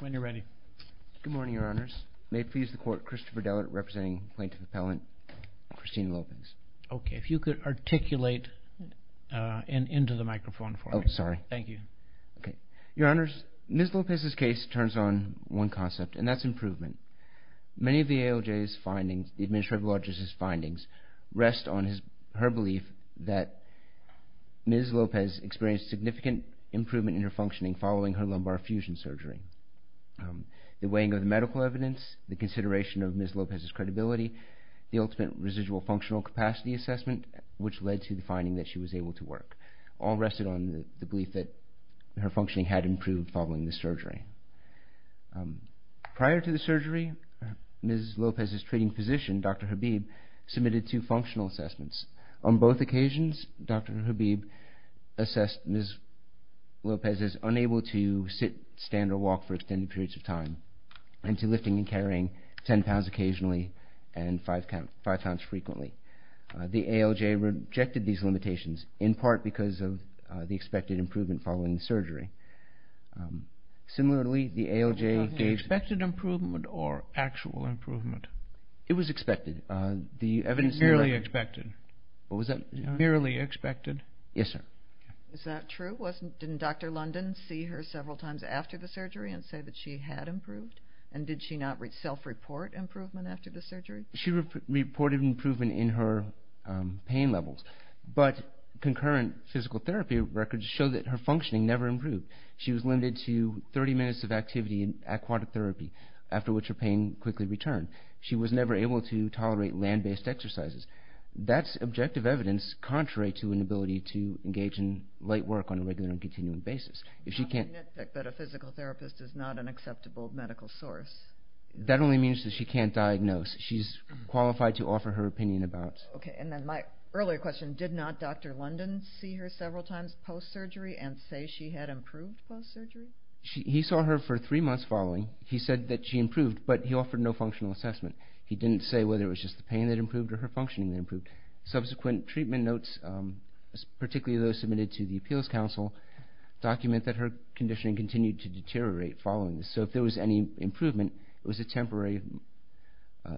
when you're ready good morning your honors may please the court Christopher Dellert representing plaintiff appellant Christine Lopez okay if you could articulate and into the microphone oh sorry thank you okay your honors miss Lopez's case turns on one concept and that's improvement many of the ALJ's findings the administrative logistics findings rest on his her belief that miss Lopez experienced significant improvement in her functioning following her lumbar fusion surgery the weighing of the medical evidence the consideration of miss Lopez's credibility the ultimate residual functional capacity assessment which led to the finding that she was able to work all rested on the belief that her functioning had improved following the surgery prior to the surgery mrs. Lopez's treating physician dr. Habib submitted two functional assessments on both occasions dr. Habib assessed miss Lopez's unable to sit stand or walk for extended periods of time and to lifting and carrying 10 pounds occasionally and 5 count 5 pounds frequently the ALJ rejected these limitations in part because of the expected improvement following the surgery similarly the ALJ expected improvement or actual improvement it was expected the evidence nearly expected what was that nearly expected yes sir is that true wasn't didn't dr. London see her several times after the surgery and say that she had improved and did she not reach self-report improvement after the surgery she reported improvement in her pain levels but concurrent physical therapy records show that her functioning never improved she was limited to 30 minutes of activity in aquatic therapy after which her pain quickly returned she was never able to tolerate land-based exercises that's objective evidence contrary to an ability to engage in late work on a regular and continuing basis if she can't that only means that she can't diagnose she's qualified to offer her opinion about my earlier question did not dr. London see her several times post-surgery and say she had improved she saw her for three months following he said that she improved but he offered no functional assessment he didn't say whether it was just the pain that improved or her functioning improved subsequent treatment notes particularly those submitted to the appeals council document that her conditioning continued to deteriorate following this so if there was any improvement it was a temporary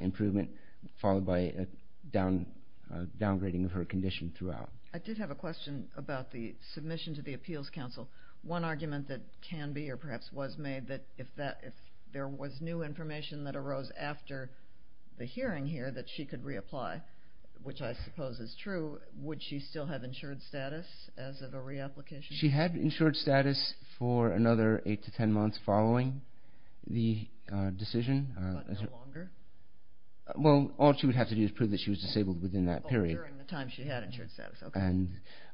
improvement followed by a down downgrading of her condition throughout I did have a question about the submission to the appeals council one argument that can be or perhaps was made that if that if there was new information that arose after the hearing here that she could reapply which I suppose is true would she still have insured status as of a reapplication she had insured status for another eight to ten months following the decision well all she would have to do is prove that she was disabled within that period during the time she had insured status okay and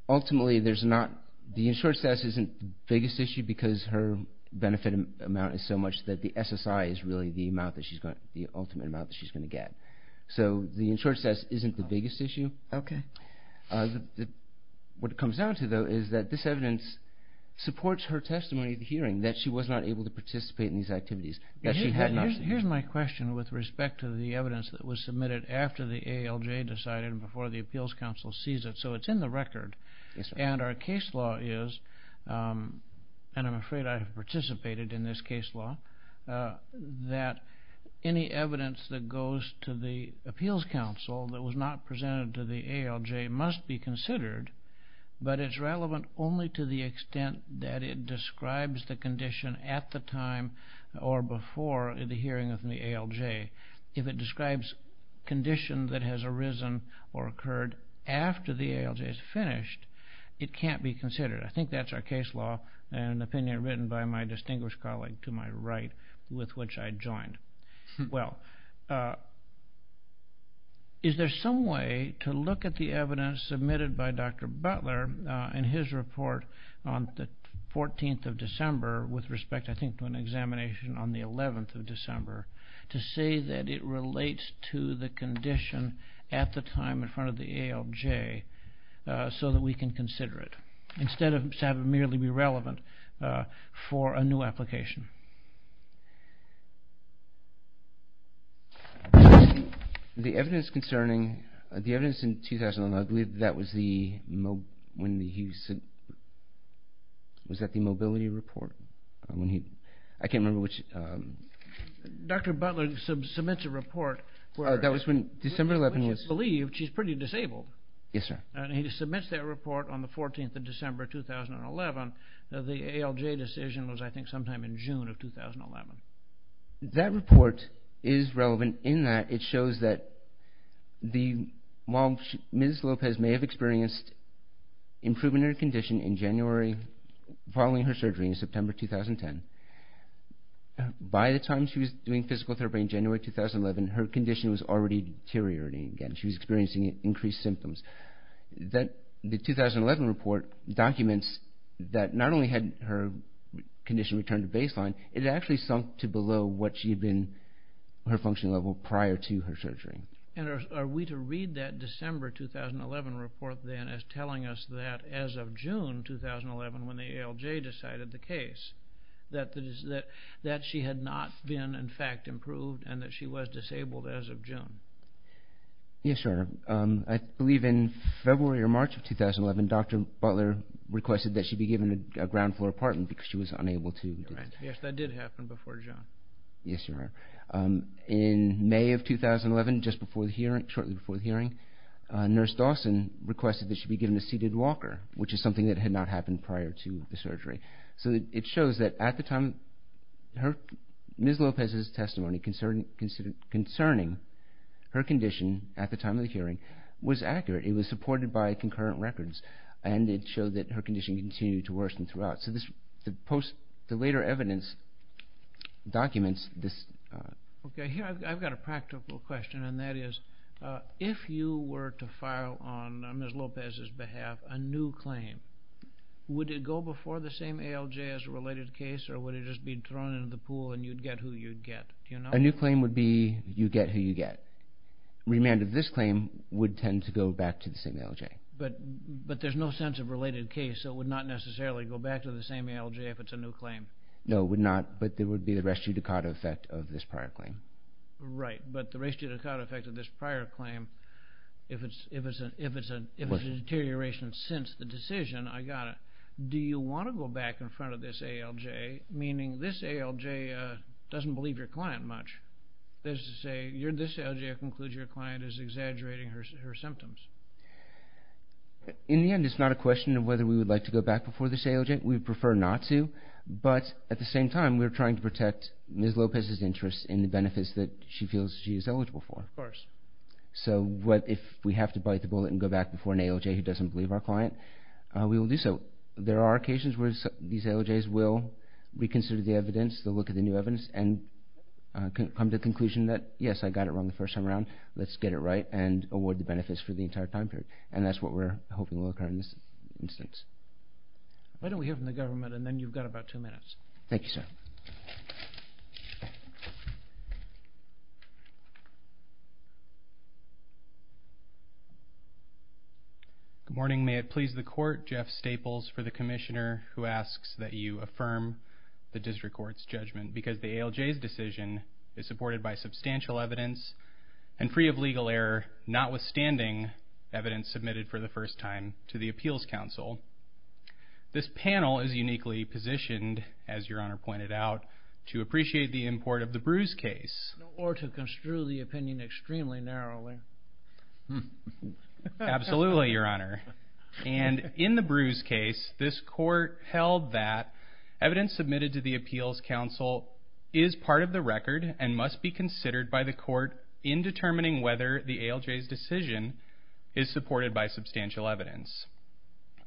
ultimately there's not the issue because her benefit amount is so much that the SSI is really the amount that she's got the ultimate amount that she's going to get so the insurance test isn't the biggest issue okay what it comes down to though is that this evidence supports her testimony at the hearing that she was not able to participate in these activities that she had here's my question with respect to the evidence that was submitted after the ALJ decided before the appeals council sees it so it's in the record and our case law is and I'm afraid I have participated in this case law that any evidence that goes to the appeals council that was not presented to the ALJ must be considered but it's relevant only to the extent that it describes the condition at the time or before the hearing of the ALJ if it describes condition that has arisen or occurred after the ALJ is finished it can't be considered I think that's our case law and opinion written by my distinguished colleague to my right with which I joined well is there some way to look at the evidence submitted by dr. Butler in his report on the 14th of December with respect I think to an examination on the 11th of December to say that it relates to the condition at the time in front of the ALJ so that we can consider it instead of merely be relevant for a new application the evidence concerning the evidence in 2001 I believe that was the when he said was that the mobility report when he I can't remember which dr. Butler submits a report that was when December 11 was believed she's pretty disabled yes sir and he submits that report on the 14th of December 2011 the ALJ decision was I think sometime in June of 2011 that report is relevant in that it shows that while Ms. Lopez may have experienced improvement in her condition in January following her surgery in September 2010 by the time she was doing physical therapy in January 2011 her condition was already deteriorating again she was experiencing increased symptoms that the 2011 report documents that not only had her condition returned to baseline it actually sunk to below what she had been her functioning level prior to her surgery and are we to read that December 2011 report then as telling us that as of June 2011 when the ALJ decided the case that that she had not been in fact improved and that she was disabled as of June yes sir I believe in February or March of 2011 dr. Butler requested that she be given a ground-floor apartment because she was yes sir in May of 2011 just before the hearing shortly before the hearing nurse Dawson requested that she be given a seated Walker which is something that had not happened prior to the surgery so it shows that at the time her Ms. Lopez's testimony concerning her condition at the time of the hearing was accurate it was supported by concurrent records and it showed that her condition continued to worsen throughout so this post the later evidence documents this okay here I've got a practical question and that is if you were to file on Ms. Lopez's behalf a new claim would it go before the same ALJ as a related case or would it just be thrown into the pool and you'd get who you'd get a new claim would be you get who you get remanded this claim would tend to go back to the ALJ but but there's no sense of related case so it would not necessarily go back to the same ALJ if it's a new claim no it would not but there would be the rest you Dakota effect of this prior claim right but the race to Dakota affected this prior claim if it's if it's an if it's a deterioration since the decision I got it do you want to go back in front of this ALJ meaning this ALJ doesn't believe your client much there's to say you're this ALJ concludes your client is exaggerating her symptoms in the end it's not a question of whether we would like to go back before this ALJ we prefer not to but at the same time we're trying to protect Ms. Lopez's interests in the benefits that she feels she is eligible for of course so what if we have to bite the bullet and go back before an ALJ who doesn't believe our client we will do so there are occasions where these ALJs will reconsider the evidence they'll look at the new evidence and come to the conclusion that yes I got it wrong the let's get it right and award the benefits for the entire time period and that's what we're hoping will occur in this instance why don't we hear from the government and then you've got about two minutes thank you sir good morning may it please the court Jeff Staples for the Commissioner who asks that you affirm the district courts judgment because the ALJ's decision is substantial evidence and free of legal error notwithstanding evidence submitted for the first time to the Appeals Council this panel is uniquely positioned as your honor pointed out to appreciate the import of the bruise case or to construe the opinion extremely narrowly absolutely your honor and in the bruise case this court held that evidence submitted to the Appeals Council is part of the record and must be considered by the court in determining whether the ALJ's decision is supported by substantial evidence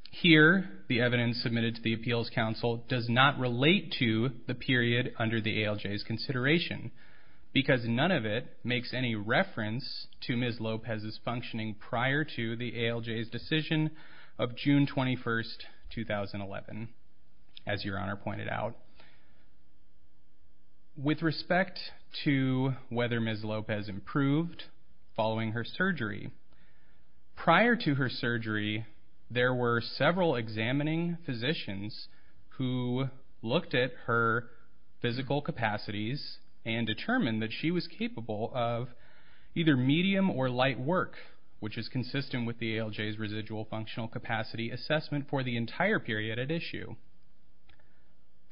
here the evidence submitted to the Appeals Council does not relate to the period under the ALJ's consideration because none of it makes any reference to Ms. Lopez's functioning prior to the ALJ's decision of June 21st 2011 as your honor pointed out with respect to whether Ms. Lopez improved following her surgery prior to her surgery there were several examining physicians who looked at her physical capacities and determined that she was capable of either medium or light work which is consistent with the ALJ's residual functional capacity assessment for the entire period at issue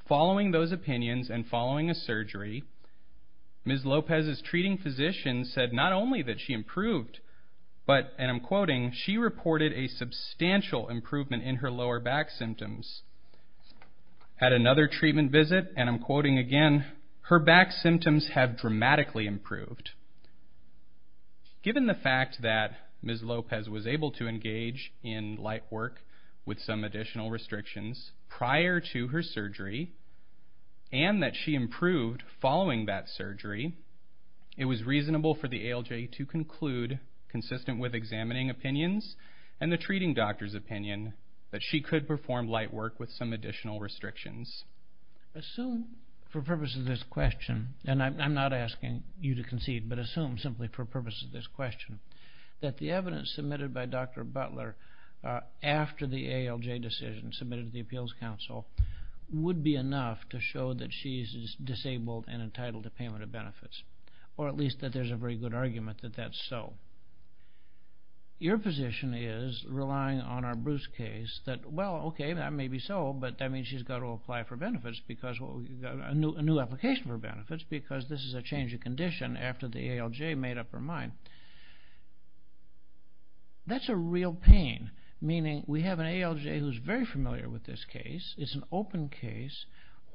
following those opinions and following a surgery Ms. Lopez's treating physician said not only that she improved but and I'm quoting she reported a substantial improvement in her lower back symptoms at another treatment visit and I'm quoting again her back symptoms have dramatically improved given the fact that Ms. Lopez was able to engage in light work with some additional restrictions prior to her surgery and that she improved following that surgery it was reasonable for the ALJ to conclude consistent with examining opinions and the treating doctor's opinion that she could perform light work with some additional restrictions assume for purposes of this question and I'm not asking you to concede but assume simply for purposes of this question that the evidence submitted by Dr. Butler after the ALJ decision submitted to the Appeals Council would be enough that she's disabled and entitled to payment of benefits or at least that there's a very good argument that that's so your position is relying on our Bruce case that well okay that may be so but I mean she's got to apply for benefits because a new application for benefits because this is a change of condition after the ALJ made up her mind that's a real pain meaning we have an this case it's an open case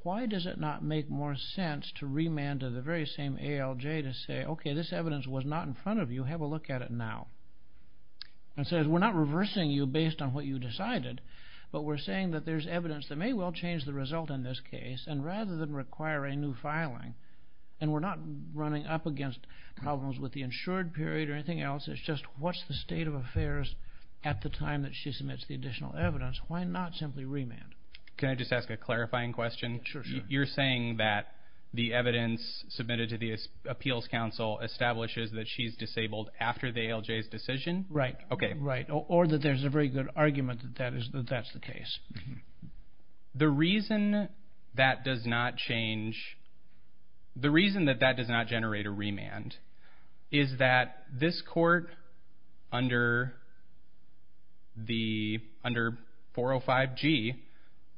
why does it not make more sense to remand to the very same ALJ to say okay this evidence was not in front of you have a look at it now and says we're not reversing you based on what you decided but we're saying that there's evidence that may well change the result in this case and rather than requiring new filing and we're not running up against problems with the insured period or anything else it's just what's the state of affairs at the time that she submits the additional evidence why not simply remand can I just ask a clarifying question you're saying that the evidence submitted to the Appeals Council establishes that she's disabled after the ALJ's decision right okay right or that there's a very good argument that that is that that's the case the reason that does not change the reason that that does not generate a the under 405 G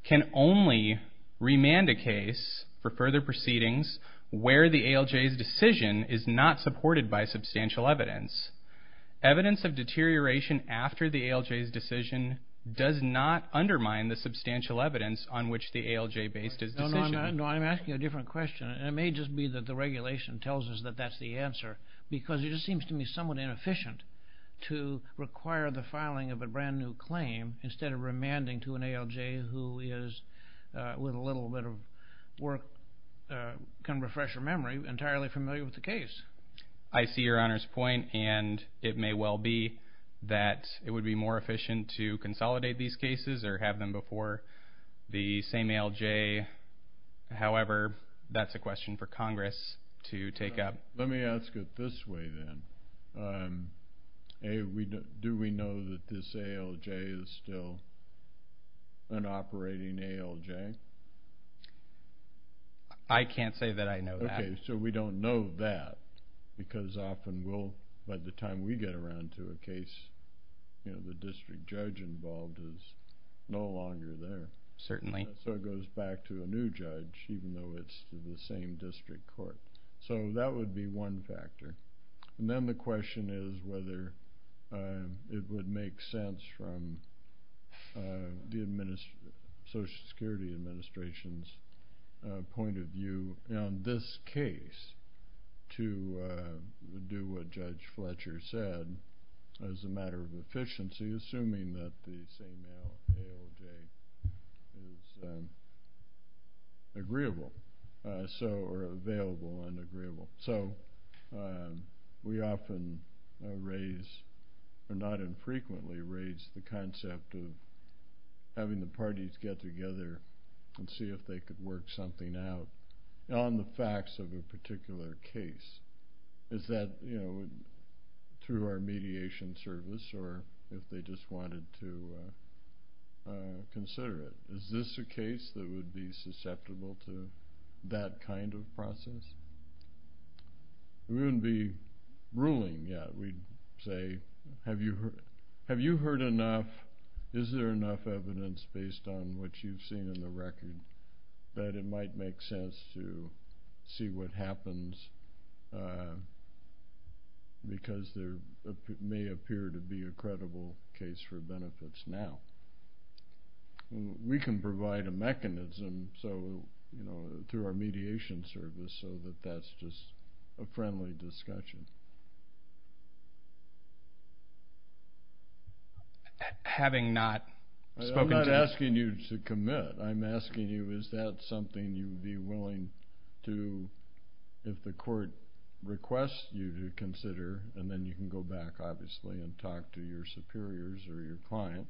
can only remand a case for further proceedings where the ALJ's decision is not supported by substantial evidence evidence of deterioration after the ALJ's decision does not undermine the substantial evidence on which the ALJ based is no I'm asking a different question it may just be that the regulation tells us that that's the answer because it just seems to me somewhat inefficient to require the filing of a brand-new claim instead of remanding to an ALJ who is with a little bit of work can refresh your memory entirely familiar with the case I see your honors point and it may well be that it would be more efficient to consolidate these cases or have them before the same ALJ however that's a question for Congress to take up let me ask it this way then hey we do we know that this ALJ is still an operating ALJ I can't say that I know okay so we don't know that because often will by the time we get around to a case you know the district judge involved is no longer there certainly so it goes back to a new judge even though it's the same district court so that would be one factor and then the question is whether it would make sense from the administration Social Security Administration's point of view on this case to do what Judge Fletcher said as a matter of efficiency assuming that the same ALJ is agreeable so or available and agreeable so we often raise or not infrequently raise the concept of having the parties get together and see if they could work something out on the facts of a wanted to consider it is this a case that would be susceptible to that kind of process we wouldn't be ruling yet we'd say have you heard have you heard enough is there enough evidence based on what you've seen in the record that it might make sense to see what happens because there may appear to be a credible case for benefits now we can provide a mechanism so you know through our mediation service so that that's just a friendly discussion having not spoken asking you to commit I'm asking you is that something you would be willing to if the court requests you to consider and then you can go back obviously and talk to your superiors or your client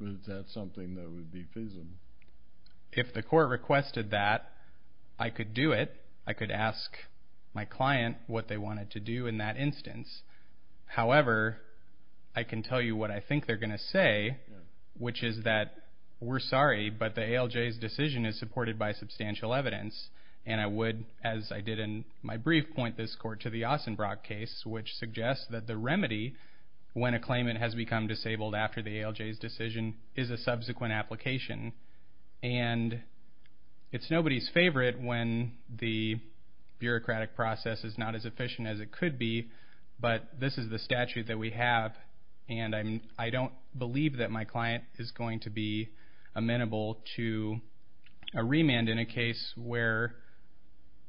is that something that would be feasible if the court requested that I could do it I could ask my client what they wanted to do in that instance however I can tell you what I think they're going to say which is that we're sorry but the ALJ decision is supported by substantial evidence and I would as I did in my brief point this court to the Austin Brock case which suggests that the remedy when a claimant has become disabled after the ALJ decision is a subsequent application and it's nobody's favorite when the bureaucratic process is not as efficient as it could be but this is the statute that we have and I don't believe that my client is going to be amenable to a remand in a case where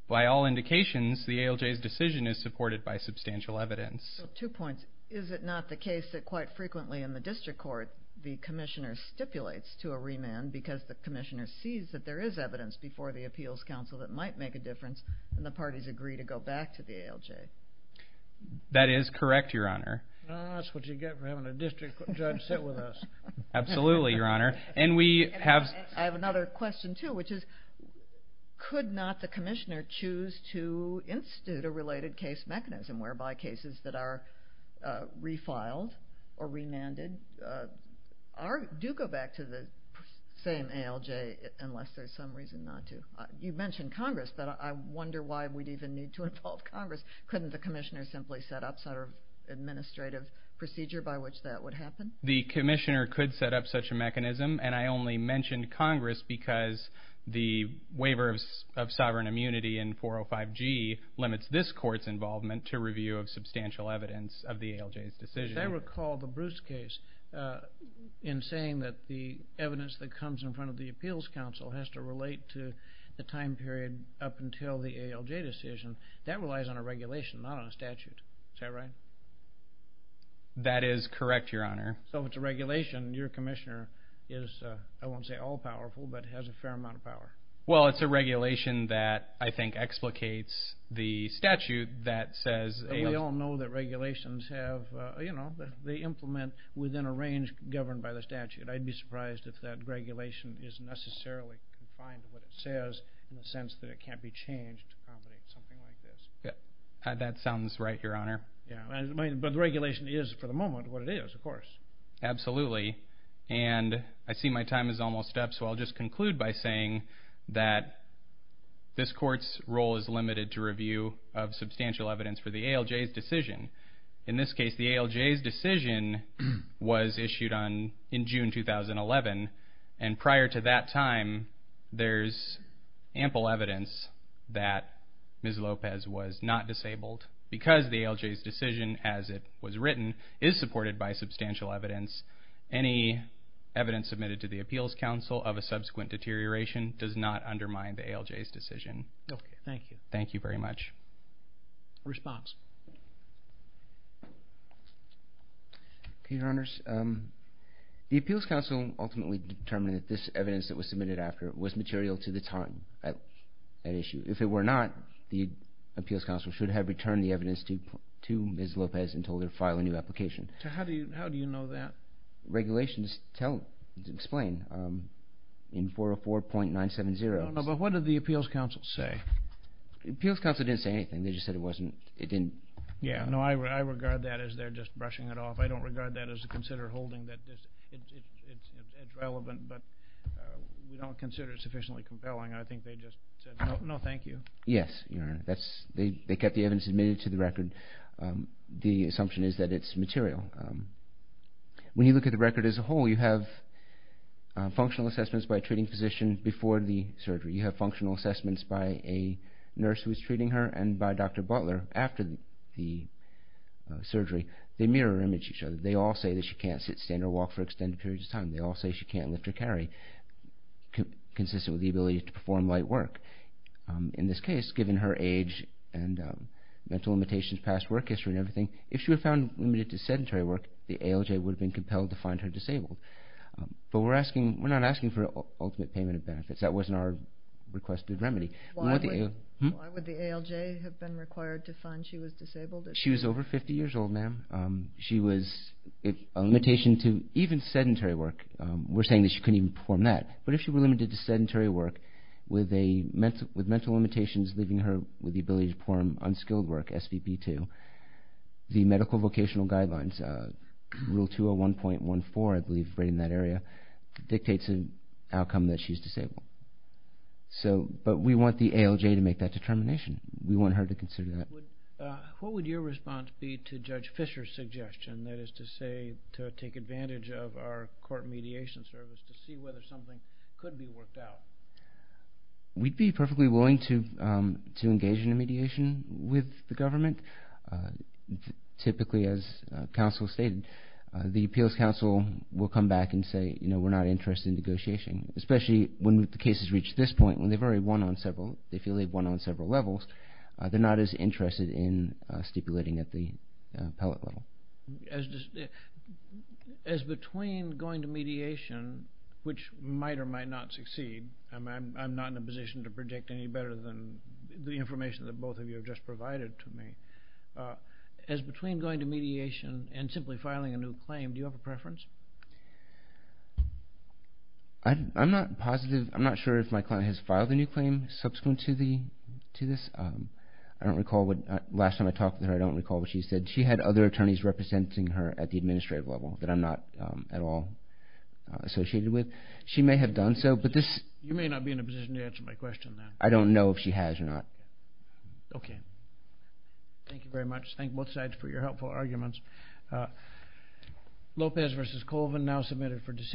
by all indications the ALJ's decision is supported by substantial evidence two points is it not the case that quite frequently in the district court the Commissioner stipulates to a remand because the Commissioner sees that there is evidence before the Appeals Council that might make a difference and the parties agree to go back to the ALJ that is correct your absolutely your honor and we have another question too which is could not the Commissioner choose to institute a related case mechanism whereby cases that are refiled or remanded are do go back to the same ALJ unless there's some reason not to you mentioned Congress but I wonder why we'd even need to involve Congress couldn't the Commissioner simply set up sort of administrative procedure by which that would happen the Commissioner could set up such a mechanism and I only mentioned Congress because the waiver of sovereign immunity in 405 G limits this court's involvement to review of substantial evidence of the ALJ's decision I recall the Bruce case in saying that the evidence that comes in front of the Appeals Council has to relate to the time period up until the that is correct your honor so it's a regulation your Commissioner is I won't say all-powerful but has a fair amount of power well it's a regulation that I think explicates the statute that says we all know that regulations have you know they implement within a range governed by the statute I'd be surprised if that regulation is necessarily confined to what it says in the sense that it can't be changed that sounds right your honor yeah but the regulation is for the moment what it is of course absolutely and I see my time is almost up so I'll just conclude by saying that this court's role is limited to review of substantial evidence for the ALJ's decision in this case the ALJ's decision was issued on in June 2011 and prior to that time there's ample evidence that the ALJ's decision as it was written is supported by substantial evidence any evidence submitted to the Appeals Council of a subsequent deterioration does not undermine the ALJ's decision okay thank you thank you very much response your honors the Appeals Council ultimately determined that this evidence that was submitted after it was material to the time at an issue if it were not the Appeals Council should have returned the evidence to to Ms. Lopez and told her to file a new application how do you how do you know that regulations tell explain in 404.970 but what did the Appeals Council say Appeals Council didn't say anything they just said it wasn't it didn't yeah no I regard that as they're just brushing it off I don't regard that as a consider holding that this is relevant but we don't consider it sufficiently compelling I think they kept the evidence submitted to the record the assumption is that it's material when you look at the record as a whole you have functional assessments by a treating physician before the surgery you have functional assessments by a nurse who is treating her and by Dr. Butler after the surgery they mirror image each other they all say that she can't sit stand or walk for extended periods of time they all say she can't lift or carry consistent with the her age and mental limitations past work history and everything if she were found limited to sedentary work the ALJ would have been compelled to find her disabled but we're asking we're not asking for ultimate payment of benefits that wasn't our requested remedy she was over 50 years old ma'am she was a limitation to even sedentary work we're saying that she couldn't even perform that but if she were limited to sedentary work with a mental with mental with the ability to perform unskilled work SVP to the medical vocational guidelines rule 201.14 I believe right in that area dictates an outcome that she's disabled so but we want the ALJ to make that determination we want her to consider that what would your response be to judge Fisher's suggestion that is to say to take advantage of our court mediation service to see whether something could be worked out we'd be perfectly willing to to engage in a mediation with the government typically as counsel stated the appeals counsel will come back and say you know we're not interested in negotiation especially when the cases reach this point when they've already won on several they feel they've won on several levels they're not as interested in stipulating at the level as between going to mediation which might or might not succeed I'm not in a position to predict any better than the information that both of you have just provided to me as between going to mediation and simply filing a new claim do you have a preference I'm not positive I'm not sure if my client has filed a new claim subsequent to the to this I don't recall what last time I don't recall what she said she had other attorneys representing her at the administrative level that I'm not at all associated with she may have done so but this you may not be in a position to answer my question I don't know if she has or not okay thank you very much thank both sides for your helpful arguments Lopez versus Colvin now submitted for decision